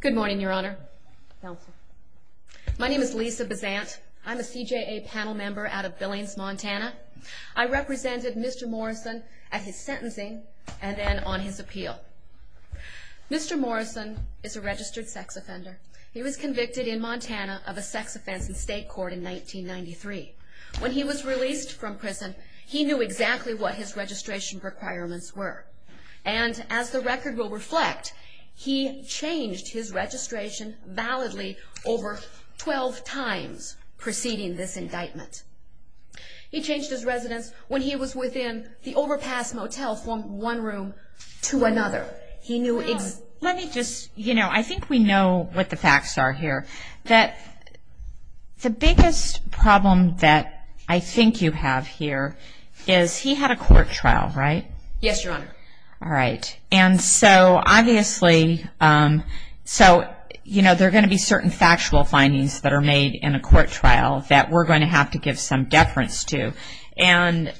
Good morning, Your Honor. My name is Lisa Bazant. I'm a CJA panel member out of Billings, Montana. I represented Mr. Morrison at his sentencing and then on his appeal. Mr. Morrison is a registered sex offender. He was convicted in Montana of a sex offense in state court in 1993. When he was released from prison, he knew exactly what his registration requirements were. And as the record will reflect, he changed his registration validly over 12 times preceding this indictment. He changed his residence when he was within the overpass motel from one room to another. I think we know what the facts are here. The biggest problem that I think you have here is he had a court trial, right? There are going to be certain factual findings that are made in a court trial that we're going to have to give some deference to. I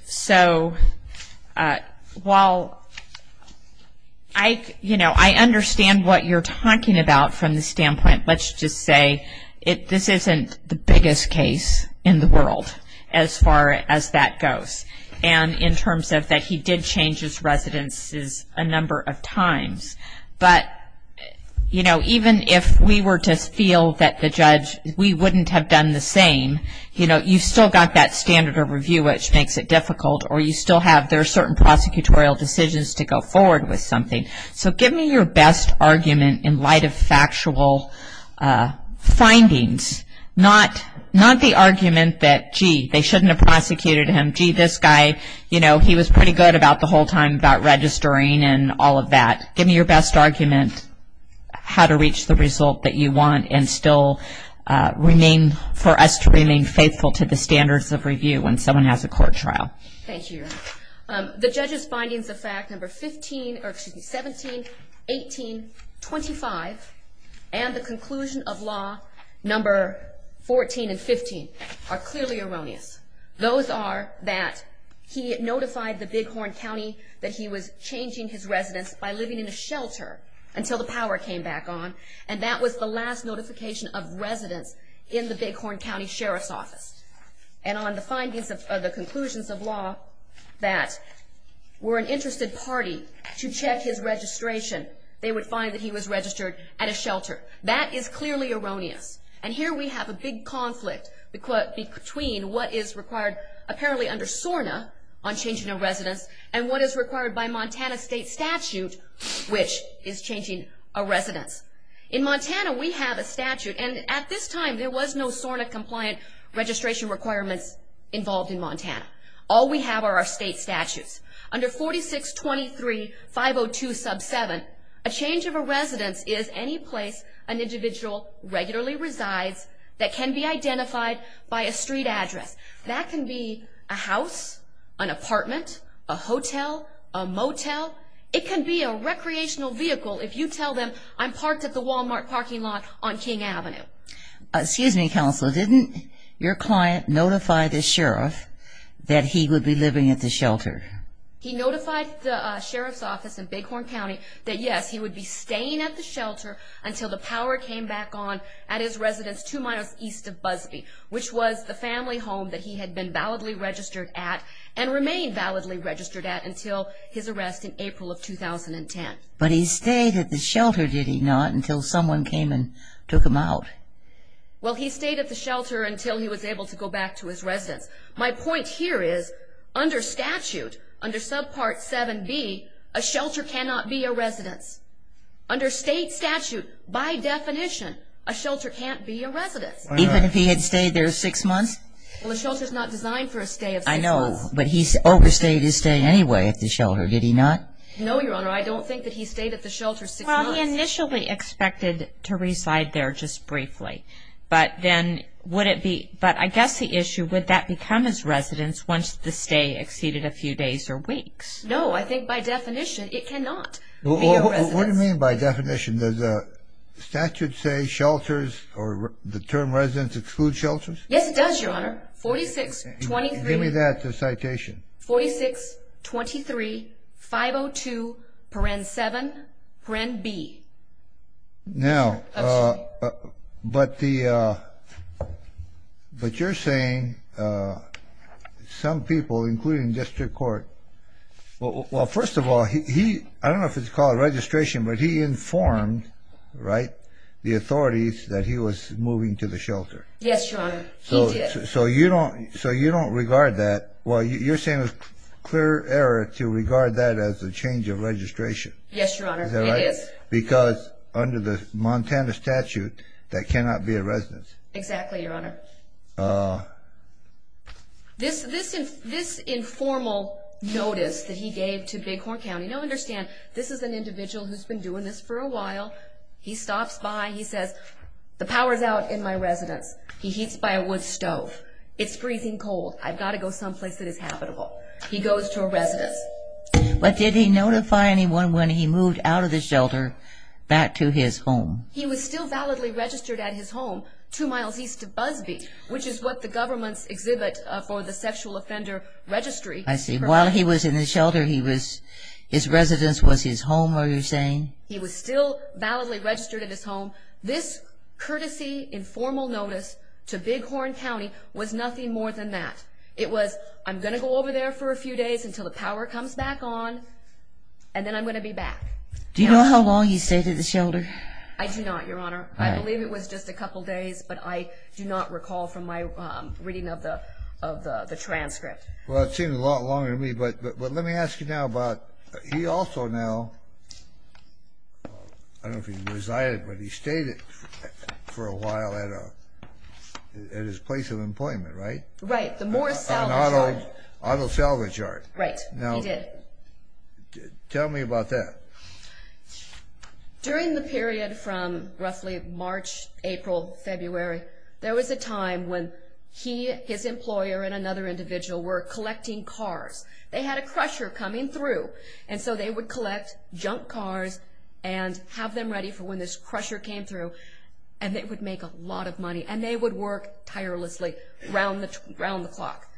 understand what you're talking about from the standpoint, let's just say, this isn't the biggest case in the world as far as that goes. And in terms of that he did change his residence a number of times. But even if we were to feel that the judge, we wouldn't have done the same, you've still got that standard of review which makes it difficult. Or you still have certain prosecutorial decisions to go forward with something. So give me your best argument in light of factual findings. Not the argument that, gee, they shouldn't have prosecuted him. Gee, this guy, you know, he was pretty good about the whole time about registering and all of that. Give me your best argument how to reach the result that you want and still remain, for us to remain faithful to the standards of review when someone has a court trial. Thank you. The judge's findings of fact number 17, 18, 25, and the conclusion of law number 14 and 15 are clearly erroneous. Those are that he notified the Bighorn County that he was changing his residence by living in a shelter until the power came back on. And that was the last notification of residence in the Bighorn County Sheriff's Office. And on the findings of the conclusions of law that were an interested party to check his registration, they would find that he was registered at a shelter. That is clearly erroneous. And here we have a big conflict between what is required apparently under SORNA on changing a residence and what is required by Montana state statute which is changing a residence. In Montana we have a statute, and at this time there was no SORNA compliant registration requirements involved in Montana. All we have are our state statutes. Under 4623.502.7, a change of a residence is any place an individual regularly resides that can be identified by a street address. That can be a house, an apartment, a hotel, a motel. It can be a recreational vehicle if you tell them I'm parked at the Walmart parking lot on King Avenue. Excuse me, Counselor, didn't your client notify the Sheriff that he would be living at the shelter? He notified the Sheriff's Office in Bighorn County that, yes, he would be staying at the shelter until the power came back on at his residence two miles east of Busbee, which was the family home that he had been validly registered at and remained validly registered at until his arrest in April of 2010. But he stayed at the shelter, did he not, until someone came and took him out? Well, he stayed at the shelter until he was able to go back to his residence. My point here is under statute, under Subpart 7B, a shelter cannot be a residence. Under state statute, by definition, a shelter can't be a residence. Even if he had stayed there six months? Well, a shelter is not designed for a stay of six months. I know, but he overstayed his stay anyway at the shelter, did he not? No, Your Honor, I don't think that he stayed at the shelter six months. Well, he initially expected to reside there just briefly, but then would it be, but I guess the issue, would that become his residence once the stay exceeded a few days or weeks? What do you mean by definition? Does the statute say shelters or the term residence exclude shelters? Yes, it does, Your Honor. 4623- Give me that, the citation. 4623-502-7B. Now, but the, but you're saying some people, including district court. Well, first of all, he, I don't know if it's called registration, but he informed, right, the authorities that he was moving to the shelter. Yes, Your Honor, he did. So you don't, so you don't regard that, well, you're saying it's clear error to regard that as a change of registration. Yes, Your Honor, it is. Is that right? Because under the Montana statute, that cannot be a residence. Exactly, Your Honor. This informal notice that he gave to Bighorn County, now understand, this is an individual who's been doing this for a while. He stops by, he says, the power's out in my residence. He heats by a wood stove. It's freezing cold. I've got to go someplace that is habitable. He goes to a residence. But did he notify anyone when he moved out of the shelter back to his home? He was still validly registered at his home two miles east of Busbee, which is what the government's exhibit for the sexual offender registry. I see. While he was in the shelter, he was, his residence was his home, are you saying? He was still validly registered at his home. This courtesy informal notice to Bighorn County was nothing more than that. It was, I'm going to go over there for a few days until the power comes back on, and then I'm going to be back. Do you know how long he stayed at the shelter? I do not, Your Honor. I believe it was just a couple days, but I do not recall from my reading of the transcript. Well, it seemed a lot longer to me, but let me ask you now about, he also now, I don't know if he resided, but he stayed for a while at his place of employment, right? Right, the Morris Salvage Yard. Otto Salvage Yard. Right, he did. Tell me about that. During the period from roughly March, April, February, there was a time when he, his employer, and another individual were collecting cars. They had a crusher coming through, and so they would collect junk cars and have them ready for when this crusher came through, and it would make a lot of money, and they would work tirelessly around the clock.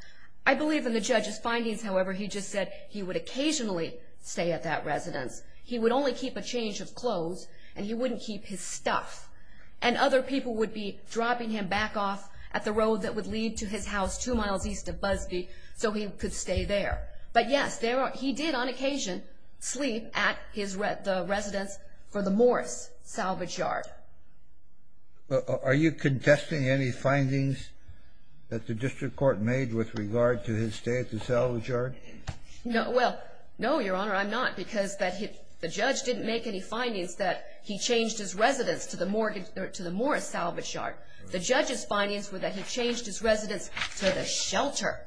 I believe in the judge's findings, however, he just said he would occasionally stay at that residence. He would only keep a change of clothes, and he wouldn't keep his stuff, and other people would be dropping him back off at the road that would lead to his house two miles east of Busby so he could stay there. But, yes, he did on occasion sleep at the residence for the Morris Salvage Yard. Are you contesting any findings that the district court made with regard to his stay at the Salvage Yard? No, well, no, Your Honor, I'm not, because the judge didn't make any findings that he changed his residence to the Morris Salvage Yard. The judge's findings were that he changed his residence to the shelter.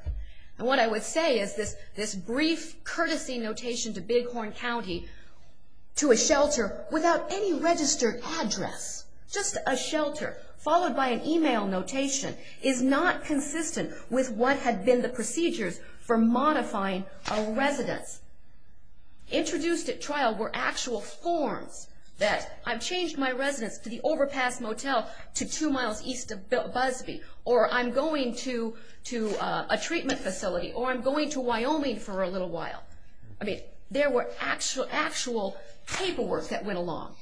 And what I would say is this brief, courtesy notation to Bighorn County, to a shelter without any registered address, just a shelter, followed by an email notation, is not consistent with what had been the procedures for modifying a residence. Introduced at trial were actual forms that, I've changed my residence to the Overpass Motel to two miles east of Busby, or I'm going to a treatment facility, or I'm going to Wyoming for a little while. I mean, there were actual paperwork that went along.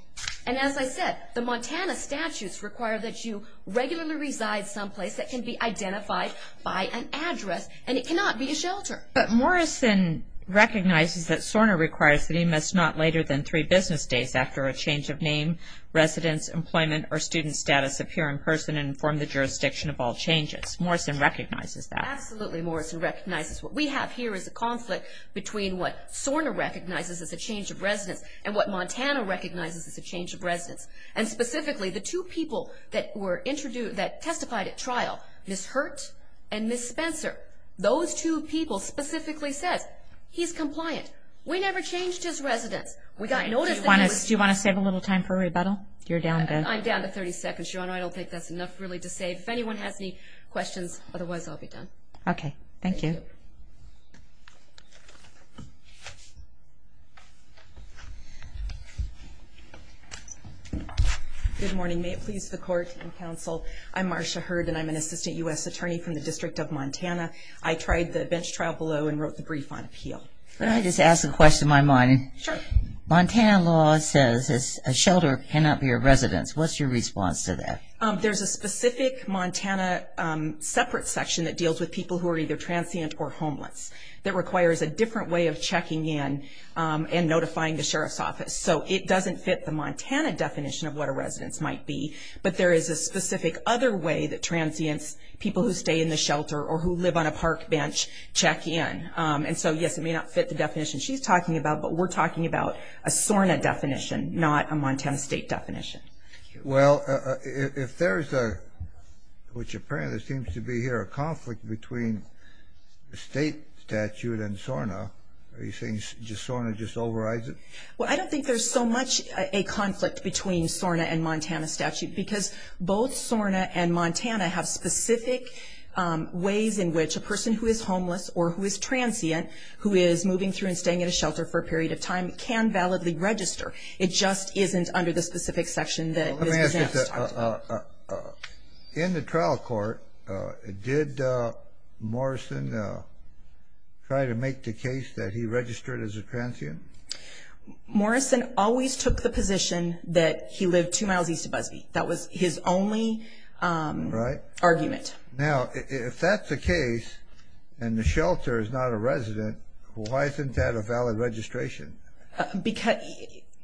And as I said, the Montana statutes require that you regularly reside someplace that can be identified by an address, and it cannot be a shelter. But Morrison recognizes that Sorna requires that he must not later than three business days after a change of name, residence, employment, or student status, appear in person and inform the jurisdiction of all changes. Morrison recognizes that. Absolutely, Morrison recognizes. What we have here is a conflict between what Sorna recognizes as a change of residence and what Montana recognizes as a change of residence. And specifically, the two people that testified at trial, Ms. Hurt and Ms. Spencer, those two people specifically said, he's compliant. We never changed his residence. Do you want to save a little time for rebuttal? I'm down to 30 seconds, Your Honor. I don't think that's enough really to save. If anyone has any questions, otherwise I'll be done. Okay. Thank you. Good morning. May it please the Court and Counsel, I'm Marcia Hurt, and I'm an assistant U.S. attorney from the District of Montana. I tried the bench trial below and wrote the brief on appeal. May I just ask a question of my mind? Sure. Montana law says a shelter cannot be a residence. What's your response to that? There's a specific Montana separate section that deals with people who are either transient or homeless that requires a different way of checking in and notifying the sheriff's office. So it doesn't fit the Montana definition of what a residence might be, but there is a specific other way that transients, people who stay in the shelter or who live on a park bench, check in. And so, yes, it may not fit the definition she's talking about, but we're talking about a SORNA definition, not a Montana state definition. Well, if there's a, which apparently seems to be here, a conflict between the state statute and SORNA, are you saying SORNA just overrides it? Well, I don't think there's so much a conflict between SORNA and Montana statute because both SORNA and Montana have specific ways in which a person who is homeless or who is transient, who is moving through and staying at a shelter for a period of time, can validly register. It just isn't under the specific section that Ms. Gazant was talking about. In the trial court, did Morrison try to make the case that he registered as a transient? Morrison always took the position that he lived two miles east of Busbee. That was his only argument. Now, if that's the case and the shelter is not a resident, why isn't that a valid registration? Because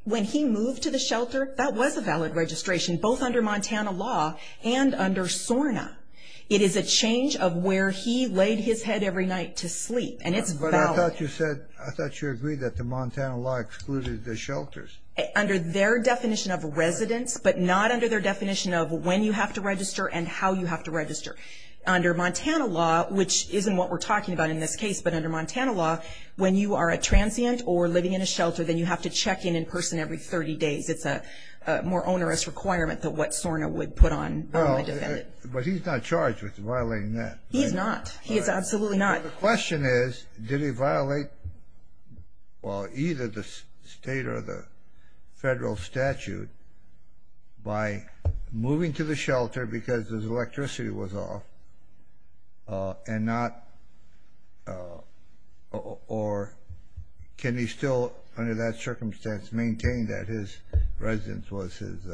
when he moved to the shelter, that was a valid registration, both under Montana law and under SORNA. It is a change of where he laid his head every night to sleep, and it's valid. But I thought you agreed that the Montana law excluded the shelters. Under their definition of residents, but not under their definition of when you have to register and how you have to register. Under Montana law, which isn't what we're talking about in this case, but under Montana law, when you are a transient or living in a shelter, then you have to check in in person every 30 days. It's a more onerous requirement than what SORNA would put on a defendant. But he's not charged with violating that. He's not. He is absolutely not. The question is, did he violate either the state or the federal statute by moving to the shelter because his electricity was off? And not, or can he still, under that circumstance, maintain that his residence was his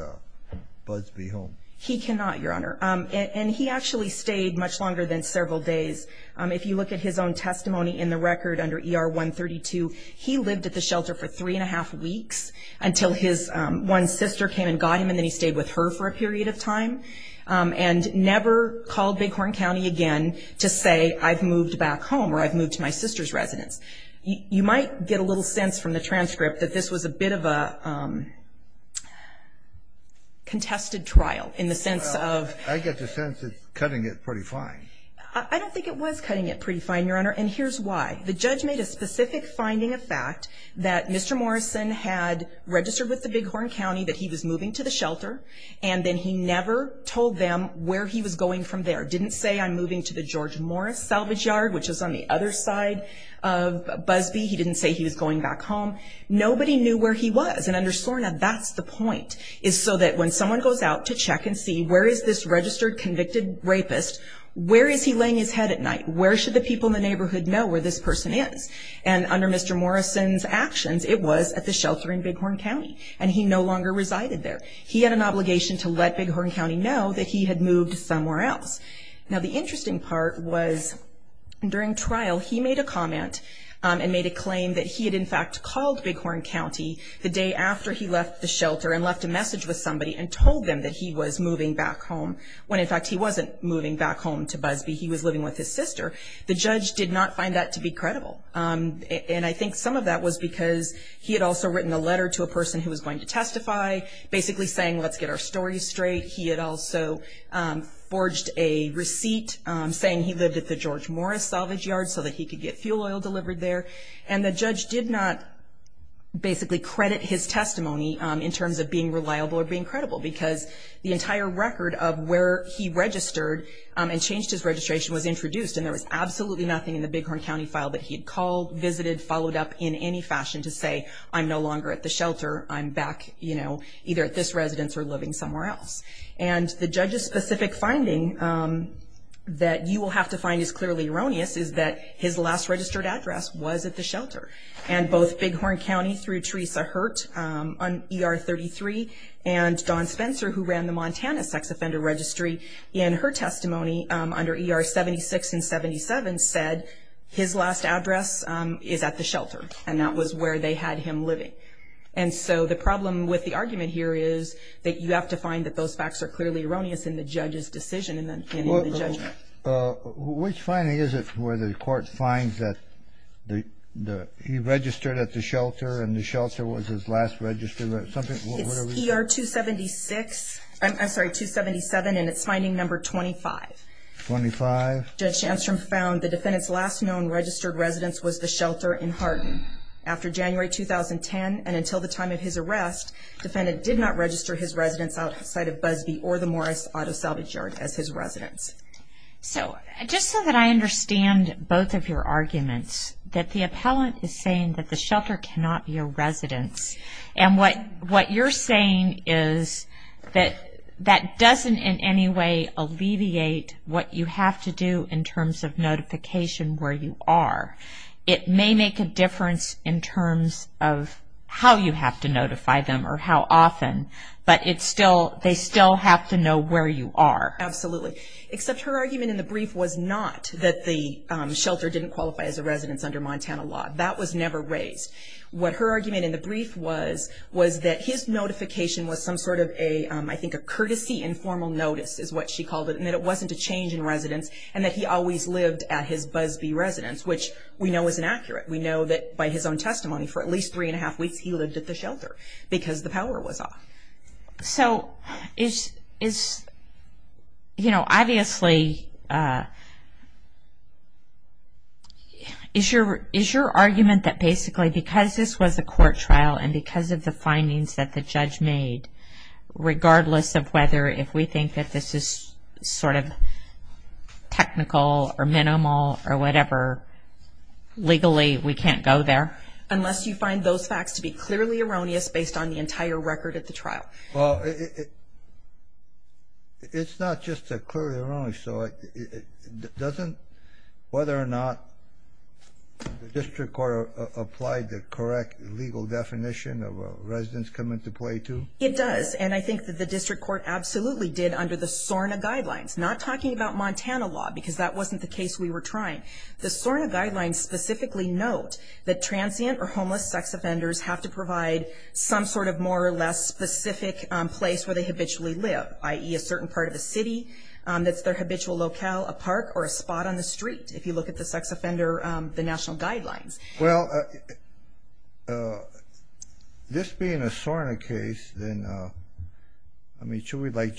Busbee home? He cannot, Your Honor. And he actually stayed much longer than several days. If you look at his own testimony in the record under ER 132, he lived at the shelter for three and a half weeks until his one sister came and got him, and then he stayed with her for a period of time and never called Bighorn County again to say, I've moved back home or I've moved to my sister's residence. You might get a little sense from the transcript that this was a bit of a contested trial in the sense of. I get the sense it's cutting it pretty fine. I don't think it was cutting it pretty fine, Your Honor, and here's why. The judge made a specific finding of fact that Mr. Morrison had registered with the Bighorn County that he was moving to the shelter, and then he never told them where he was going from there. Didn't say, I'm moving to the George Morris Salvage Yard, which is on the other side of Busbee. He didn't say he was going back home. Nobody knew where he was. And under SORNA, that's the point, is so that when someone goes out to check and see, where is this registered convicted rapist, where is he laying his head at night? Where should the people in the neighborhood know where this person is? And under Mr. Morrison's actions, it was at the shelter in Bighorn County, and he no longer resided there. He had an obligation to let Bighorn County know that he had moved somewhere else. Now, the interesting part was during trial he made a comment and made a claim that he had, in fact, called Bighorn County the day after he left the shelter and left a message with somebody and told them that he was moving back home when, in fact, he wasn't moving back home to Busbee. He was living with his sister. The judge did not find that to be credible. And I think some of that was because he had also written a letter to a person who was going to testify, basically saying, let's get our stories straight. He had also forged a receipt saying he lived at the George Morris Salvage Yard so that he could get fuel oil delivered there. And the judge did not basically credit his testimony in terms of being reliable or being credible because the entire record of where he registered and changed his registration was introduced, and there was absolutely nothing in the Bighorn County file that he had called, visited, followed up in any fashion to say, I'm no longer at the shelter. I'm back, you know, either at this residence or living somewhere else. And the judge's specific finding that you will have to find is clearly erroneous, is that his last registered address was at the shelter. And both Bighorn County through Teresa Hurt on ER 33 and Dawn Spencer, who ran the Montana Sex Offender Registry, in her testimony under ER 76 and 77, said his last address is at the shelter, and that was where they had him living. And so the problem with the argument here is that you have to find that those facts are clearly erroneous in the judge's decision in the judgment. Which finding is it where the court finds that he registered at the shelter and the shelter was his last registered? It's ER 276, I'm sorry, 277, and it's finding number 25. 25? Judge Shandstrom found the defendant's last known registered residence was the shelter in Hardin. After January 2010 and until the time of his arrest, the defendant did not register his residence outside of Busbee or the Morris Auto Salvage Yard as his residence. So just so that I understand both of your arguments, that the appellant is saying that the shelter cannot be a residence, and what you're saying is that that doesn't in any way alleviate what you have to do in terms of notification where you are. It may make a difference in terms of how you have to notify them or how often, but they still have to know where you are. Absolutely. Except her argument in the brief was not that the shelter didn't qualify as a residence under Montana law. That was never raised. What her argument in the brief was was that his notification was some sort of, I think, a courtesy informal notice is what she called it, and that it wasn't a change in residence, and that he always lived at his Busbee residence, which we know is inaccurate. We know that by his own testimony, for at least three and a half weeks, he lived at the shelter because the power was off. So is, you know, obviously, is your argument that basically because this was a court trial and because of the findings that the judge made, regardless of whether if we think that this is sort of technical or minimal or whatever, legally we can't go there? Unless you find those facts to be clearly erroneous based on the entire record at the trial. Well, it's not just clearly erroneous. It doesn't, whether or not the district court applied the correct legal definition of a residence come into play to. It does. And I think that the district court absolutely did under the SORNA guidelines, not talking about Montana law because that wasn't the case we were trying. The SORNA guidelines specifically note that transient or homeless sex offenders have to provide some sort of more or less specific place where they habitually live, i.e. a certain part of the city that's their habitual locale, a park, or a spot on the street, if you look at the sex offender, the national guidelines. Well, this being a SORNA case, then, I mean, should we like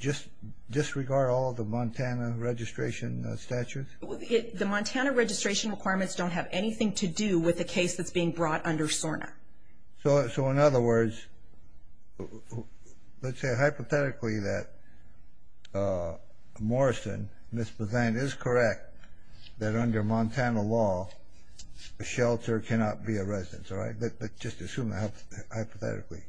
just disregard all of the Montana registration statutes? The Montana registration requirements don't have anything to do with the case that's being brought under SORNA. So, in other words, let's say hypothetically that Morrison, Ms. Bazant, is correct that under Montana law, a shelter cannot be a residence, all right? But just assume that hypothetically.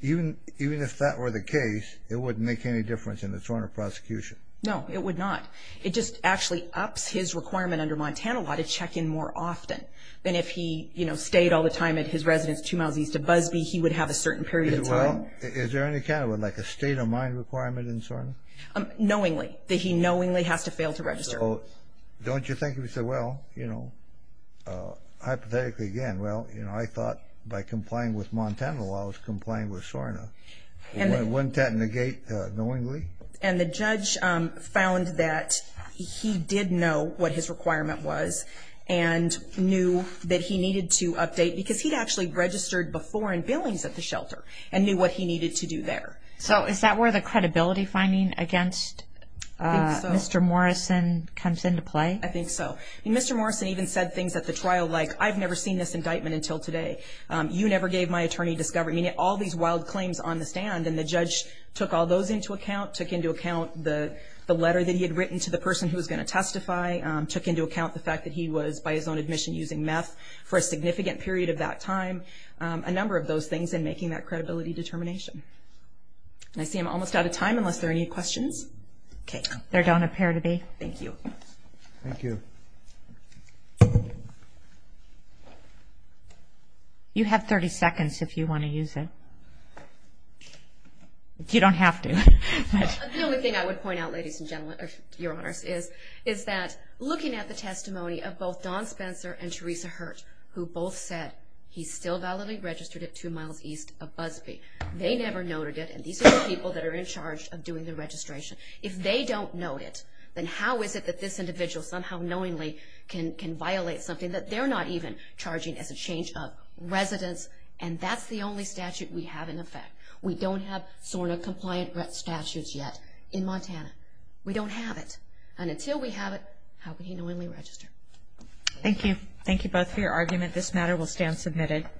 Even if that were the case, it wouldn't make any difference in the SORNA prosecution. No, it would not. It just actually ups his requirement under Montana law to check in more often than if he, you know, stayed all the time at his residence two miles east of Busby, he would have a certain period of time. Well, is there any kind of like a state of mind requirement in SORNA? Knowingly, that he knowingly has to fail to register. Don't you think he would say, well, you know, hypothetically again, well, you know, I thought by complying with Montana law, I was complying with SORNA. Wouldn't that negate knowingly? And the judge found that he did know what his requirement was and knew that he needed to update because he'd actually registered before in Billings at the shelter and knew what he needed to do there. So is that where the credibility finding against Mr. Morrison comes into play? I think so. Mr. Morrison even said things at the trial like, I've never seen this indictment until today. You never gave my attorney discovery. I mean, all these wild claims on the stand, and the judge took all those into account, took into account the letter that he had written to the person who was going to testify, took into account the fact that he was by his own admission using meth for a significant period of that time, a number of those things in making that credibility determination. I see I'm almost out of time unless there are any questions. Okay. There don't appear to be. Thank you. Thank you. You have 30 seconds if you want to use it. You don't have to. The only thing I would point out, ladies and gentlemen, Your Honors, is that looking at the testimony of both Don Spencer and Teresa Hurt, who both said he's still validly registered at two miles east of Busby. They never noted it, and these are the people that are in charge of doing the registration. If they don't note it, then how is it that this individual somehow knowingly can violate something that they're not even charging as a change of residence, and that's the only statute we have in effect. We don't have SORNA-compliant statutes yet in Montana. We don't have it, and until we have it, how can he knowingly register? Thank you. Thank you both for your argument. This matter will stand submitted.